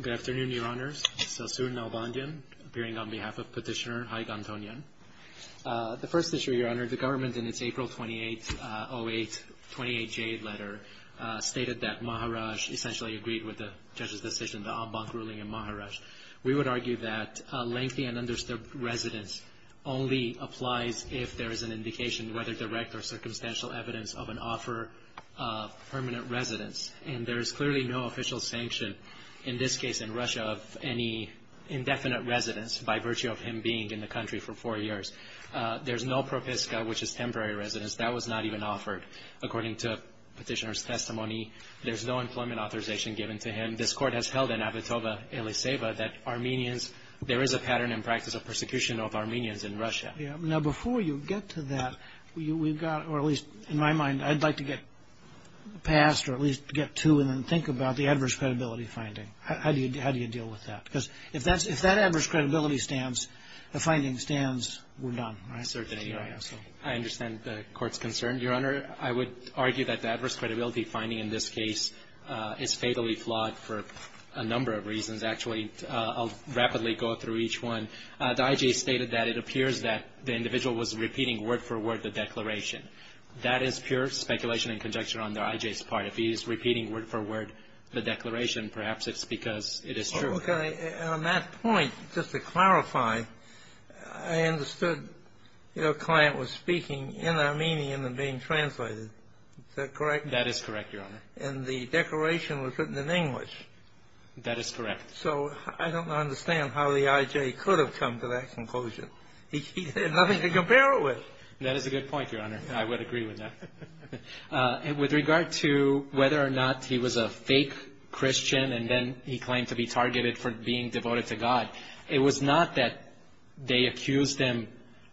Good afternoon, Your Honours. Sassou Nalbandyan, appearing on behalf of Petitioner Haig Antonyan. The first issue, Your Honour, the government in its April 28, 08, 28J letter stated that Maharashtra essentially agreed with the judge's decision, the ambank ruling in Maharashtra. We would argue that lengthy and undisturbed residence only applies if there is an indication, whether direct or circumstantial, evidence of an offer of permanent residence. And there is clearly no official sanction, in this case in Russia, of any indefinite residence by virtue of him being in the country for four years. There's no propiska, which is temporary residence. That was not even offered. According to Petitioner's testimony, there's no employment authorization given to him. This Court has held in Avitova-Eliseva that Armenians, there is a pattern and practice of persecution of Armenians in Russia. Now, before you get to that, we've got, or at least in my mind, I'd like to get past or at least get to and then think about the adverse credibility finding. How do you deal with that? Because if that adverse credibility stands, the finding stands, we're done. I certainly do. I understand the Court's concern. Your Honour, I would argue that the adverse credibility finding in this case is fatally flawed for a number of reasons. Actually, I'll rapidly go through each one. The I.J. stated that it appears that the individual was repeating word for word the declaration. That is pure speculation and conjecture on the I.J.'s part. If he is repeating word for word the declaration, perhaps it's because it is true. Okay. And on that point, just to clarify, I understood your client was speaking in Armenian and being translated. Is that correct? That is correct, Your Honour. And the declaration was written in English. That is correct. So I don't understand how the I.J. could have come to that conclusion. He had nothing to compare it with. That is a good point, Your Honour. I would agree with that. With regard to whether or not he was a fake Christian and then he claimed to be targeted for being devoted to God, it was not that they accused him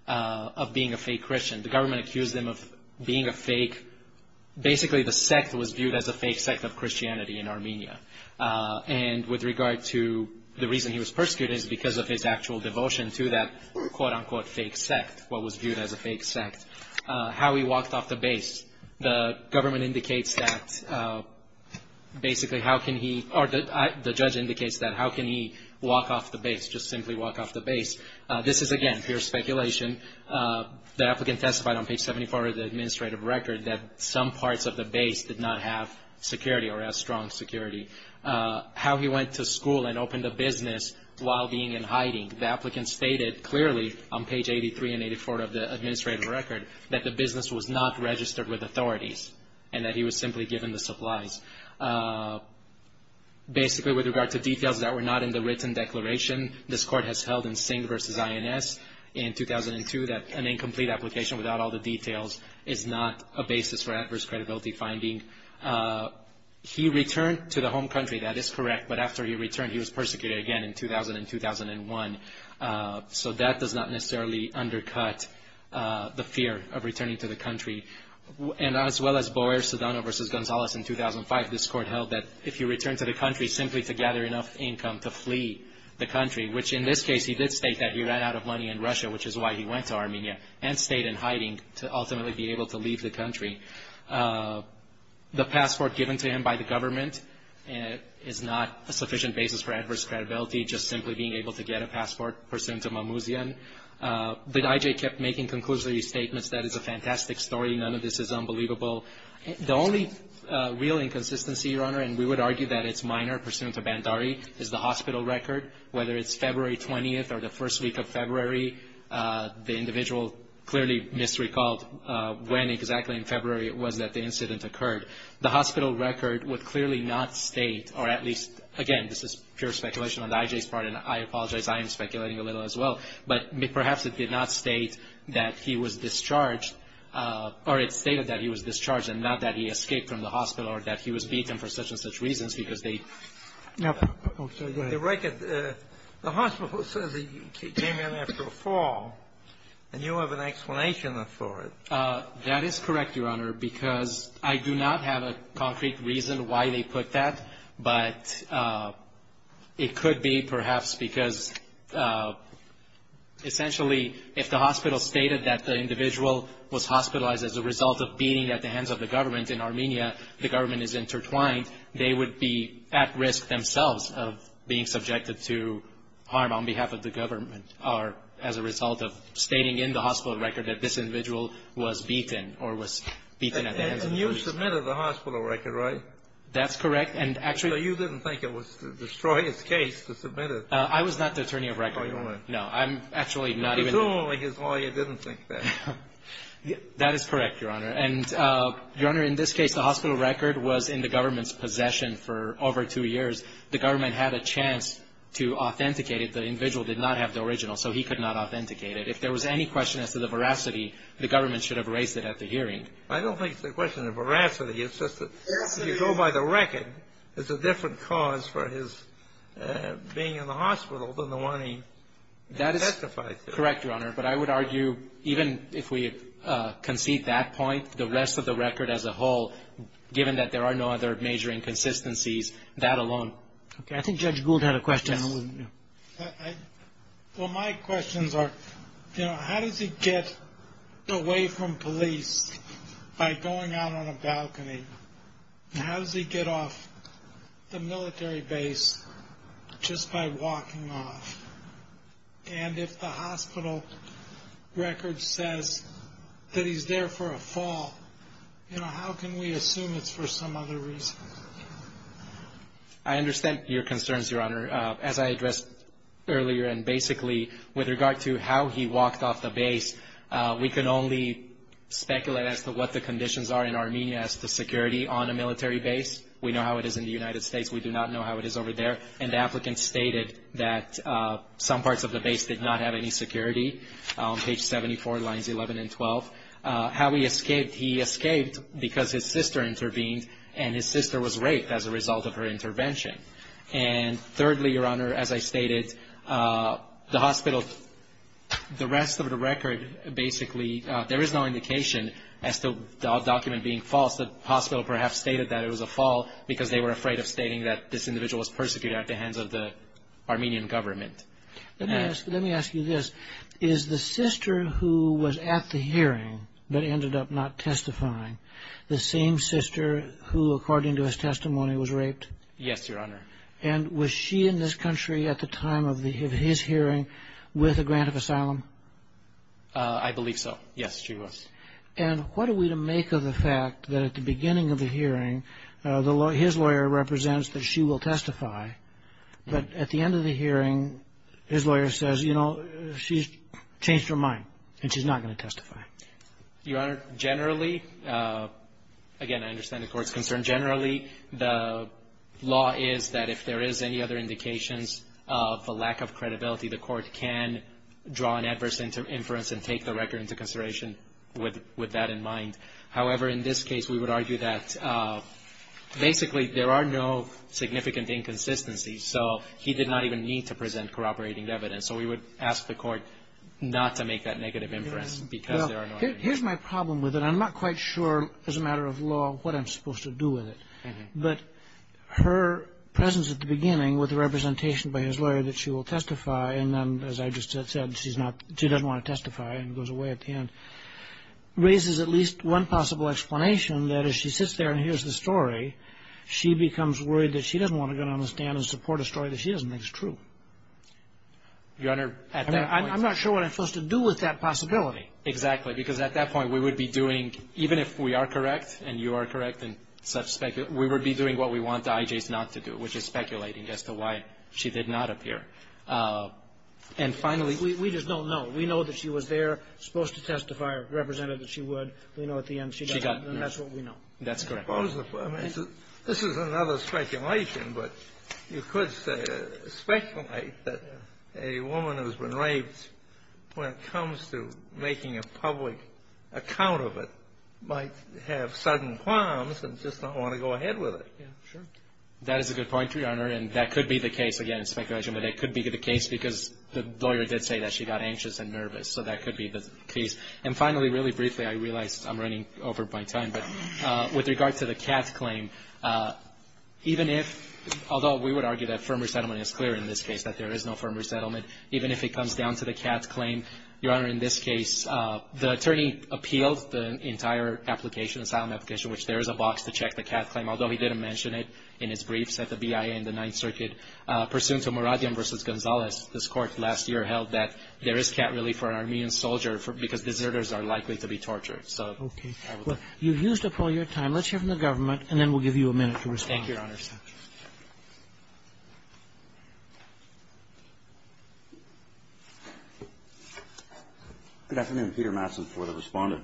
of being a fake Christian. The government accused him of being a fake. Basically, the sect was viewed as a fake sect of Christianity in Armenia. And with regard to the reason he was persecuted is because of his actual devotion to that quote-unquote fake sect, what was viewed as a fake sect. How he walked off the base, the government indicates that basically how can he or the judge indicates that how can he walk off the base, just simply walk off the base. This is, again, pure speculation. The applicant testified on page 74 of the administrative record that some parts of the base did not have security or as strong security. How he went to school and opened a business while being in hiding, the applicant stated clearly on page 83 and 84 of the administrative record that the business was not registered with authorities and that he was simply given the supplies. Basically, with regard to details that were not in the written declaration, this Court has held in Singh v. INS in 2002 that an incomplete application without all the details is not a basis for adverse credibility finding. He returned to the home country. That is correct. But after he returned, he was persecuted again in 2000 and 2001. So that does not necessarily undercut the fear of returning to the country. And as well as Boer, Sedano v. Gonzalez in 2005, this Court held that if you return to the country simply to gather enough income to flee the country, which in this case he did state that he ran out of money in Russia, which is why he went to Armenia, and stayed in hiding to ultimately be able to leave the country. The passport given to him by the government is not a sufficient basis for adverse credibility, just simply being able to get a passport pursuant to Mamouzian. But I.J. kept making conclusory statements that it's a fantastic story, none of this is unbelievable. The only real inconsistency, Your Honor, and we would argue that it's minor, pursuant to Bandari, is the hospital record. Whether it's February 20th or the first week of February, the individual clearly misrecalled when exactly in February it was that the incident occurred. The hospital record would clearly not state, or at least, again, this is pure speculation on I.J.'s part, and I apologize, I am speculating a little as well, but perhaps it did not state that he was discharged, or it stated that he was discharged and not that he escaped from the hospital or that he was beaten for such and such reasons because they ---- The record, the hospital says he came in after a fall, and you have an explanation for it. That is correct, Your Honor, because I do not have a concrete reason why they put that, but it could be perhaps because essentially if the hospital stated that the individual was hospitalized as a result of beating at the hands of the government in Armenia, the government is intertwined, they would be at risk themselves of being subjected to harm on behalf of the government or as a result of stating in the hospital record that this individual was beaten or was beaten at the hands of the police. And you submitted the hospital record, right? That's correct. And actually ---- So you didn't think it was the destroyer's case to submit it? I was not the attorney of record. Oh, you weren't. No. I'm actually not even ---- It's only because lawyer didn't think that. That is correct, Your Honor. And, Your Honor, in this case, the hospital record was in the government's possession for over two years. The government had a chance to authenticate it. The individual did not have the original, so he could not authenticate it. If there was any question as to the veracity, the government should have raised it at the hearing. I don't think it's a question of veracity. It's just that if you go by the record, it's a different cause for his being in the hospital than the one he testified to. That is correct, Your Honor. But I would argue even if we concede that point, the rest of the record as a whole, given that there are no other major inconsistencies, that alone. Okay. I think Judge Gould had a question. Yes. Well, my questions are, you know, how does he get away from police by going out on a balcony? And how does he get off the military base just by walking off? And if the hospital record says that he's there for a fall, you know, how can we assume it's for some other reason? I understand your concerns, Your Honor. As I addressed earlier and basically with regard to how he walked off the base, we can only speculate as to what the conditions are in Armenia as to security on a military base. We know how it is in the United States. We do not know how it is over there. And the applicant stated that some parts of the base did not have any security, page 74, lines 11 and 12. How he escaped, he escaped because his sister intervened, and his sister was raped as a result of her intervention. And thirdly, Your Honor, as I stated, the hospital, the rest of the record basically, there is no indication as to the document being false. The hospital perhaps stated that it was a fall because they were afraid of stating that this individual was persecuted at the hands of the Armenian government. Let me ask you this. Is the sister who was at the hearing but ended up not testifying the same sister who, according to his testimony, was raped? Yes, Your Honor. And was she in this country at the time of his hearing with a grant of asylum? I believe so. Yes, she was. And what are we to make of the fact that at the beginning of the hearing, his lawyer represents that she will testify, but at the end of the hearing, his lawyer says, you know, she's changed her mind and she's not going to testify? Your Honor, generally, again, I understand the Court's concern. Generally, the law is that if there is any other indications of a lack of credibility, the Court can draw an adverse inference and take the record into consideration with that in mind. However, in this case, we would argue that, basically, there are no significant inconsistencies, so he did not even need to present corroborating evidence. So we would ask the Court not to make that negative inference because there are no indications. Here's my problem with it. I'm not quite sure as a matter of law what I'm supposed to do with it. But her presence at the beginning with the representation by his lawyer that she will testify, and then, as I just said, she doesn't want to testify and goes away at the There's one possible explanation, that as she sits there and hears the story, she becomes worried that she doesn't want to go down on the stand and support a story that she doesn't think is true. Your Honor, at that point… I'm not sure what I'm supposed to do with that possibility. Exactly. Because at that point, we would be doing, even if we are correct and you are correct and such speculate, we would be doing what we want the IJs not to do, which is speculating as to why she did not appear. And finally… We just don't know. We know that she was there, supposed to testify or represented that she would. We know at the end she doesn't, and that's what we know. That's correct. I mean, this is another speculation, but you could speculate that a woman who has been raped, when it comes to making a public account of it, might have sudden qualms and just not want to go ahead with it. Yeah, sure. That is a good point, Your Honor, and that could be the case, again, in speculation, but it could be the case because the lawyer did say that she got anxious and nervous, so that could be the case. And finally, really briefly, I realize I'm running over my time, but with regard to the Katz claim, even if, although we would argue that firm resettlement is clear in this case, that there is no firm resettlement, even if it comes down to the Katz claim, Your Honor, in this case, the attorney appealed the entire application, asylum application, which there is a box to check the Katz claim, although he didn't mention it in his briefs at the BIA in the Ninth Circuit, pursuant to Muradian v. Gonzalez, this Court last year held that there is Katz relief for an Armenian soldier because deserters are likely to be tortured. Okay. Well, you've used up all your time. Let's hear from the government, and then we'll give you a minute to respond. Thank you, Your Honor. Good afternoon. Peter Matson for the Respondent.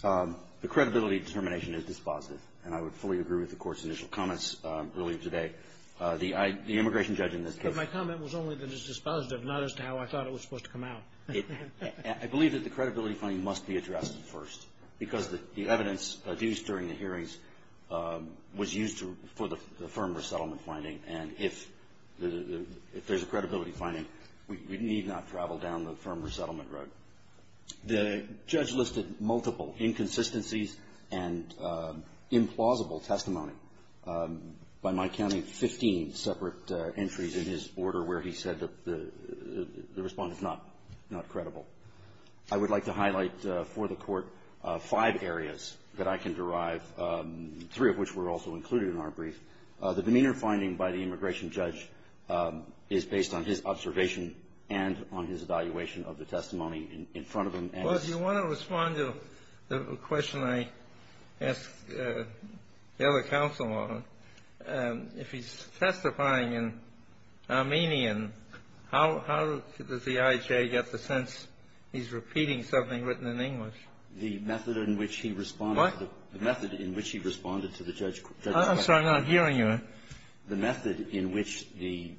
The credibility determination is dispositive, and I would fully agree with the Court's initial comments earlier today. The immigration judge in this case ---- But my comment was only that it's dispositive, not as to how I thought it was supposed to come out. I believe that the credibility finding must be addressed first because the evidence used during the hearings was used for the firm resettlement finding, and if there's a credibility finding, we need not travel down the firm resettlement road. The judge listed multiple inconsistencies and implausible testimony. By my counting, 15 separate entries in his order where he said that the Respondent was not credible. I would like to highlight for the Court five areas that I can derive, three of which were also included in our brief. The demeanor finding by the immigration judge is based on his observation and on his evaluation of the testimony in front of him. Well, if you want to respond to the question I asked the other counsel on, if he's testifying in Armenian, how does the IJ get the sense he's repeating something written in English? The method in which he responded to the judge's question. I'm sorry. I'm not hearing you. The method in which the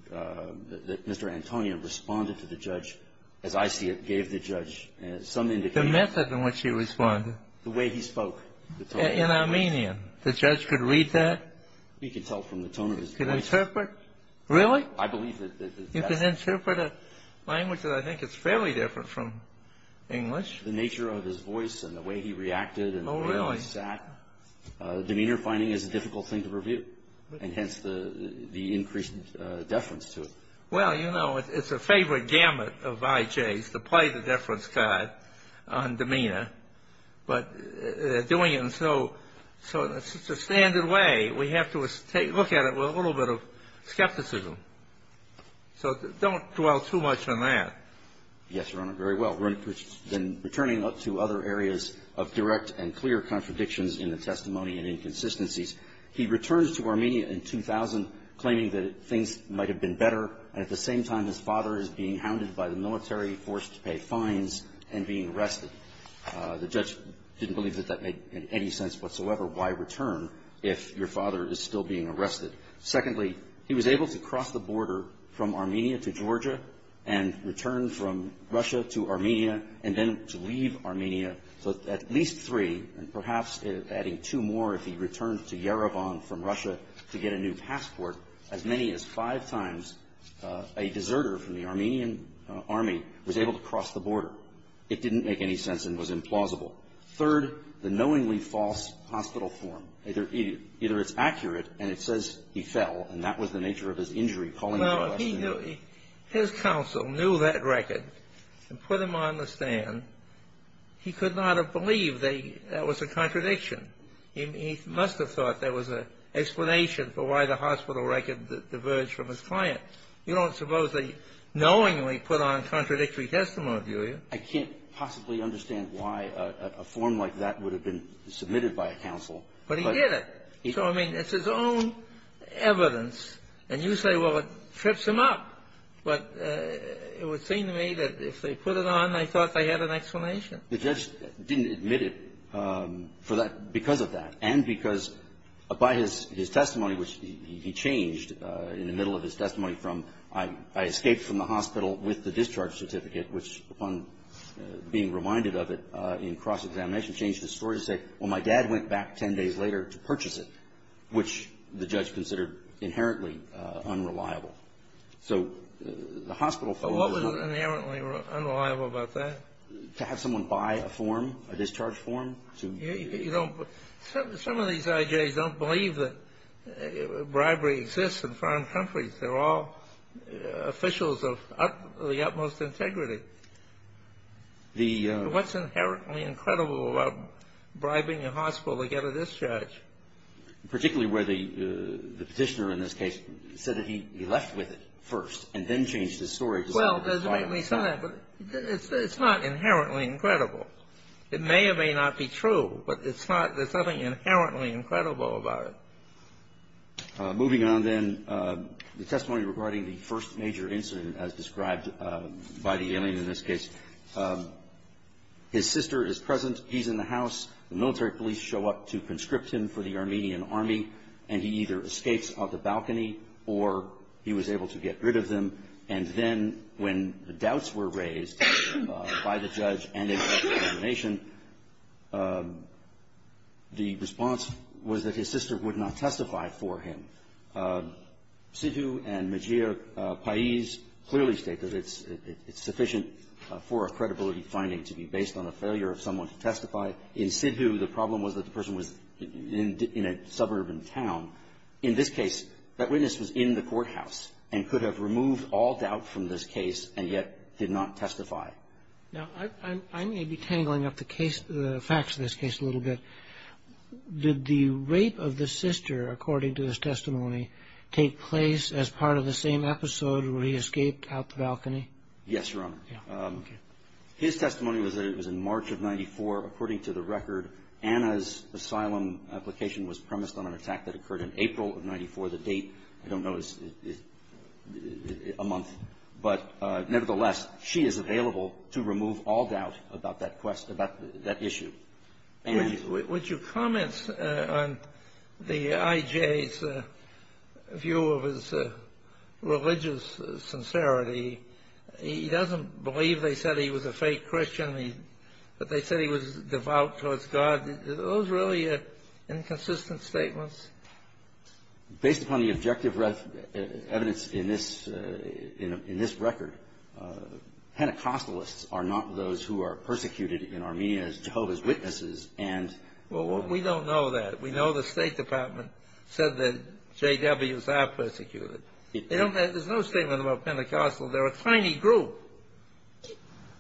Mr. Antonia responded to the judge, as I see it, gave the judge some indication. The method in which he responded. The way he spoke. In Armenian. The judge could read that. He could tell from the tone of his voice. He could interpret. Really? I believe that. He could interpret a language that I think is fairly different from English. The nature of his voice and the way he reacted and the way he sat. Oh, really? Demeanor finding is a difficult thing to review, and hence the increased deference to it. Well, you know, it's a favored gamut of IJs to play the deference card on demeanor. But doing it in such a standard way, we have to look at it with a little bit of skepticism. So don't dwell too much on that. Yes, Your Honor, very well. We're returning up to other areas of direct and clear contradictions in the testimony and inconsistencies. He returns to Armenia in 2000 claiming that things might have been better, and at the The judge didn't believe that that made any sense whatsoever. Why return if your father is still being arrested? Secondly, he was able to cross the border from Armenia to Georgia and return from Russia to Armenia and then to leave Armenia. So at least three, and perhaps adding two more if he returned to Yerevan from Russia to get a new passport, as many as five times a deserter from the Armenian army was able to cross the border. It didn't make any sense and was implausible. Third, the knowingly false hospital form. Either it's accurate, and it says he fell, and that was the nature of his injury. Well, his counsel knew that record and put him on the stand. He could not have believed that was a contradiction. He must have thought there was an explanation for why the hospital record diverged from his client. You don't suppose they knowingly put on contradictory testimony, do you? I can't possibly understand why a form like that would have been submitted by a counsel. But he did it. So, I mean, it's his own evidence. And you say, well, it trips him up. But it would seem to me that if they put it on, they thought they had an explanation. The judge didn't admit it for that – because of that, and because by his testimony, which he changed in the middle of his testimony from, I escaped from the hospital with the discharge certificate, which, upon being reminded of it in cross-examination, changed his story to say, well, my dad went back 10 days later to purchase it, which the judge considered inherently unreliable. So the hospital form was not – But what was inherently unreliable about that? To have someone buy a form, a discharge form, to – You don't – some of these IJs don't believe that bribery exists in foreign countries. They're all officials of the utmost integrity. The – What's inherently incredible about bribing a hospital to get a discharge? Particularly where the Petitioner, in this case, said that he left with it first and then changed his story to say – Well, let me say that. But it's not inherently incredible. It may or may not be true, but it's not – there's nothing inherently incredible about it. Moving on, then, the testimony regarding the first major incident, as described by the alien in this case. His sister is present. He's in the house. The military police show up to conscript him for the Armenian Army, and he either escapes off the balcony or he was able to get rid of them. And then, when the doubts were raised by the judge and his determination, the response was that his sister would not testify for him. Sidhu and Majir Pais clearly state that it's sufficient for a credibility finding to be based on a failure of someone to testify. In Sidhu, the problem was that the person was in a suburban town. In this case, that witness was in the courthouse and could have removed all doubt from this case and yet did not testify. Now, I may be tangling up the facts of this case a little bit. Did the rape of the sister, according to this testimony, take place as part of the same episode where he escaped out the balcony? Yes, Your Honor. His testimony was that it was in March of 1994. According to the record, Anna's asylum application was premised on an attack that occurred in April of 1994. The date, I don't know, is a month. But nevertheless, she is available to remove all doubt about that issue. Would you comment on the IJ's view of his religious sincerity? He doesn't believe they said he was a fake Christian, but they said he was devout towards God. Are those really inconsistent statements? Based upon the objective evidence in this record, Pentecostalists are not those who are persecuted in Armenia as Jehovah's Witnesses and Well, we don't know that. We know the State Department said that JWs are persecuted. There's no statement about Pentecostal. They're a tiny group.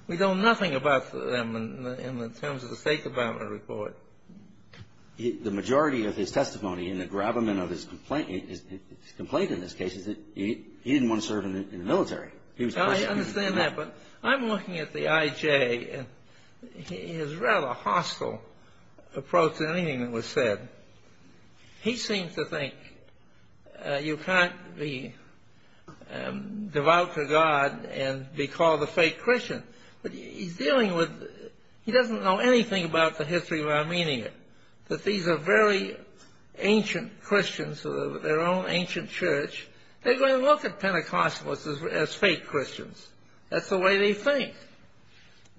We know nothing about them in terms of the State Department report. The majority of his testimony in the gravamen of his complaint in this case is that he didn't want to serve in the military. I understand that. But I'm looking at the IJ and his rather hostile approach to anything that was said. He seems to think you can't be devout to God and be called a fake Christian. He doesn't know anything about the history of Armenia, that these are very ancient Christians with their own ancient church. They're going to look at Pentecostalists as fake Christians. That's the way they think.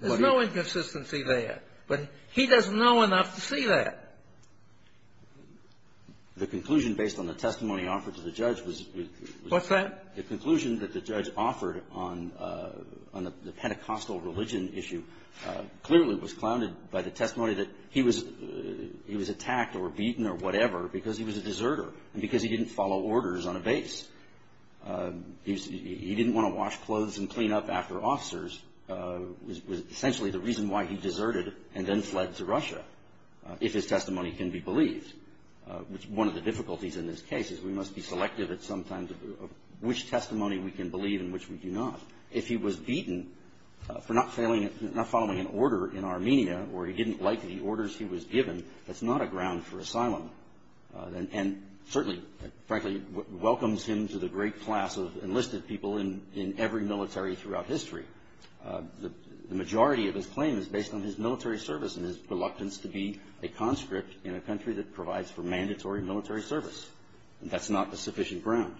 There's no inconsistency there. But he doesn't know enough to see that. The conclusion based on the testimony offered to the judge was What's that? The conclusion that the judge offered on the Pentecostal religion issue clearly was clouded by the testimony that he was attacked or beaten or whatever because he was a deserter and because he didn't follow orders on a base. He didn't want to wash clothes and clean up after officers, was essentially the reason why he deserted and then fled to Russia if his testimony can be believed. One of the difficulties in this case is we must be selective at some times of which testimony we can believe and which we do not. If he was beaten for not following an order in Armenia or he didn't like the orders he was given, and certainly, frankly, welcomes him to the great class of enlisted people in every military throughout history. The majority of his claim is based on his military service and his reluctance to be a conscript in a country that provides for mandatory military service. That's not the sufficient ground.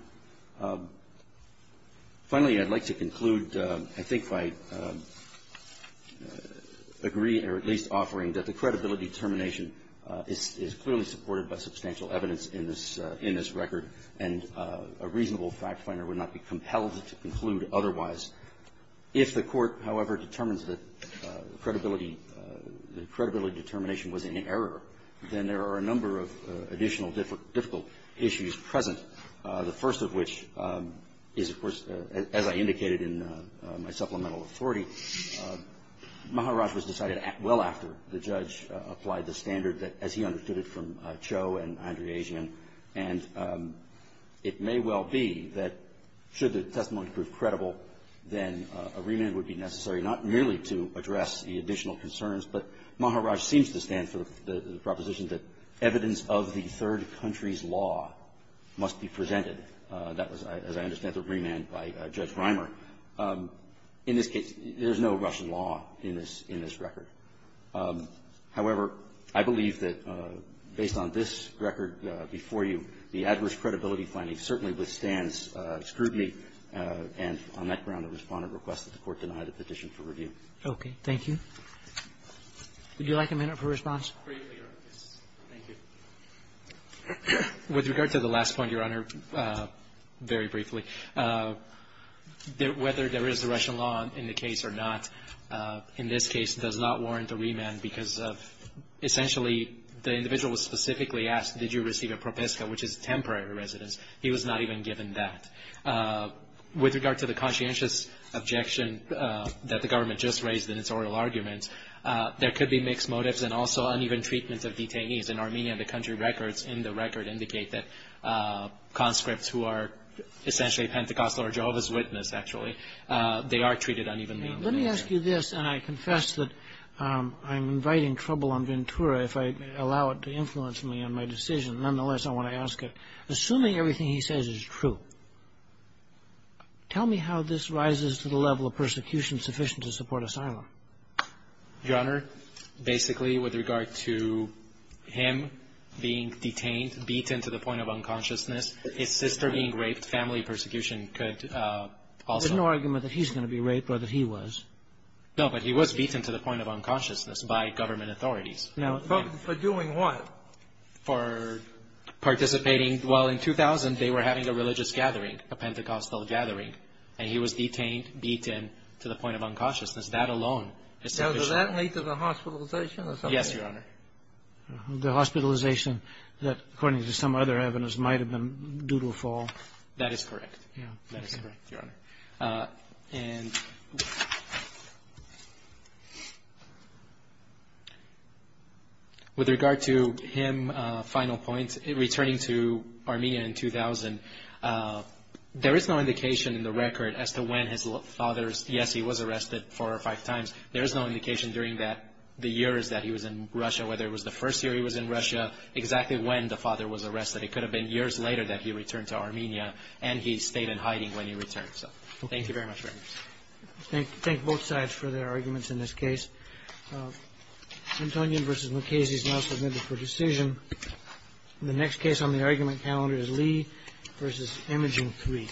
Finally, I'd like to conclude, I think, by agreeing or at least offering that the credibility determination is clearly supported by substantial evidence in this record and a reasonable fact finder would not be compelled to conclude otherwise. If the court, however, determines that the credibility determination was in error, then there are a number of additional difficult issues present. The first of which is, of course, as I indicated in my supplemental authority, Maharaj was decided well after the judge applied the standard as he understood it from Cho and Andrejian, and it may well be that should the testimony prove credible, then a remand would be necessary not merely to address the additional concerns, but Maharaj seems to stand for the proposition that evidence of the third country's law must be presented. That was, as I understand, the remand by Judge Reimer. In this case, there's no Russian law in this record. However, I believe that based on this record before you, the adverse credibility finding certainly withstands scrutiny, and on that ground the Respondent requests that the court deny the petition for review. Okay. Thank you. Would you like a minute for response? Briefly, Your Honor. Thank you. With regard to the last point, Your Honor, very briefly, whether there is the Russian law in the case or not in this case does not warrant a remand because essentially the individual was specifically asked, did you receive a propiska, which is temporary residence. He was not even given that. With regard to the conscientious objection that the government just raised in its oral argument, there could be mixed motives and also uneven treatment of detainees. In Armenia, the country records in the record indicate that conscripts who are essentially Pentecostal or Jehovah's Witness, actually, they are treated unevenly. Let me ask you this, and I confess that I'm inviting trouble on Ventura if I allow it to influence me on my decision. Nonetheless, I want to ask it. Assuming everything he says is true, tell me how this rises to the level of persecution sufficient to support asylum. Your Honor, basically with regard to him being detained, beaten to the point of unconsciousness, his sister being raped, family persecution could also be. There's no argument that he's going to be raped or that he was. No, but he was beaten to the point of unconsciousness by government authorities. Now, for doing what? For participating. Well, in 2000, they were having a religious gathering, a Pentecostal gathering, and he was detained, beaten to the point of unconsciousness. That alone is sufficient. Now, does that lead to the hospitalization or something? Yes, Your Honor. The hospitalization that, according to some other evidence, might have been due to a fall. That is correct. That is correct, Your Honor. And with regard to him, final point, returning to Armenia in 2000, there is no indication in the record as to when his father's, yes, he was arrested four or five times. There is no indication during that, the years that he was in Russia, whether it was the first year he was in Russia, exactly when the father was arrested. It could have been years later that he returned to Armenia, and he stayed in hiding when he returned. So thank you very much, Your Honor. Thank both sides for their arguments in this case. Antonin v. Mukasey is now submitted for decision. The next case on the argument calendar is Lee v. Imogene III.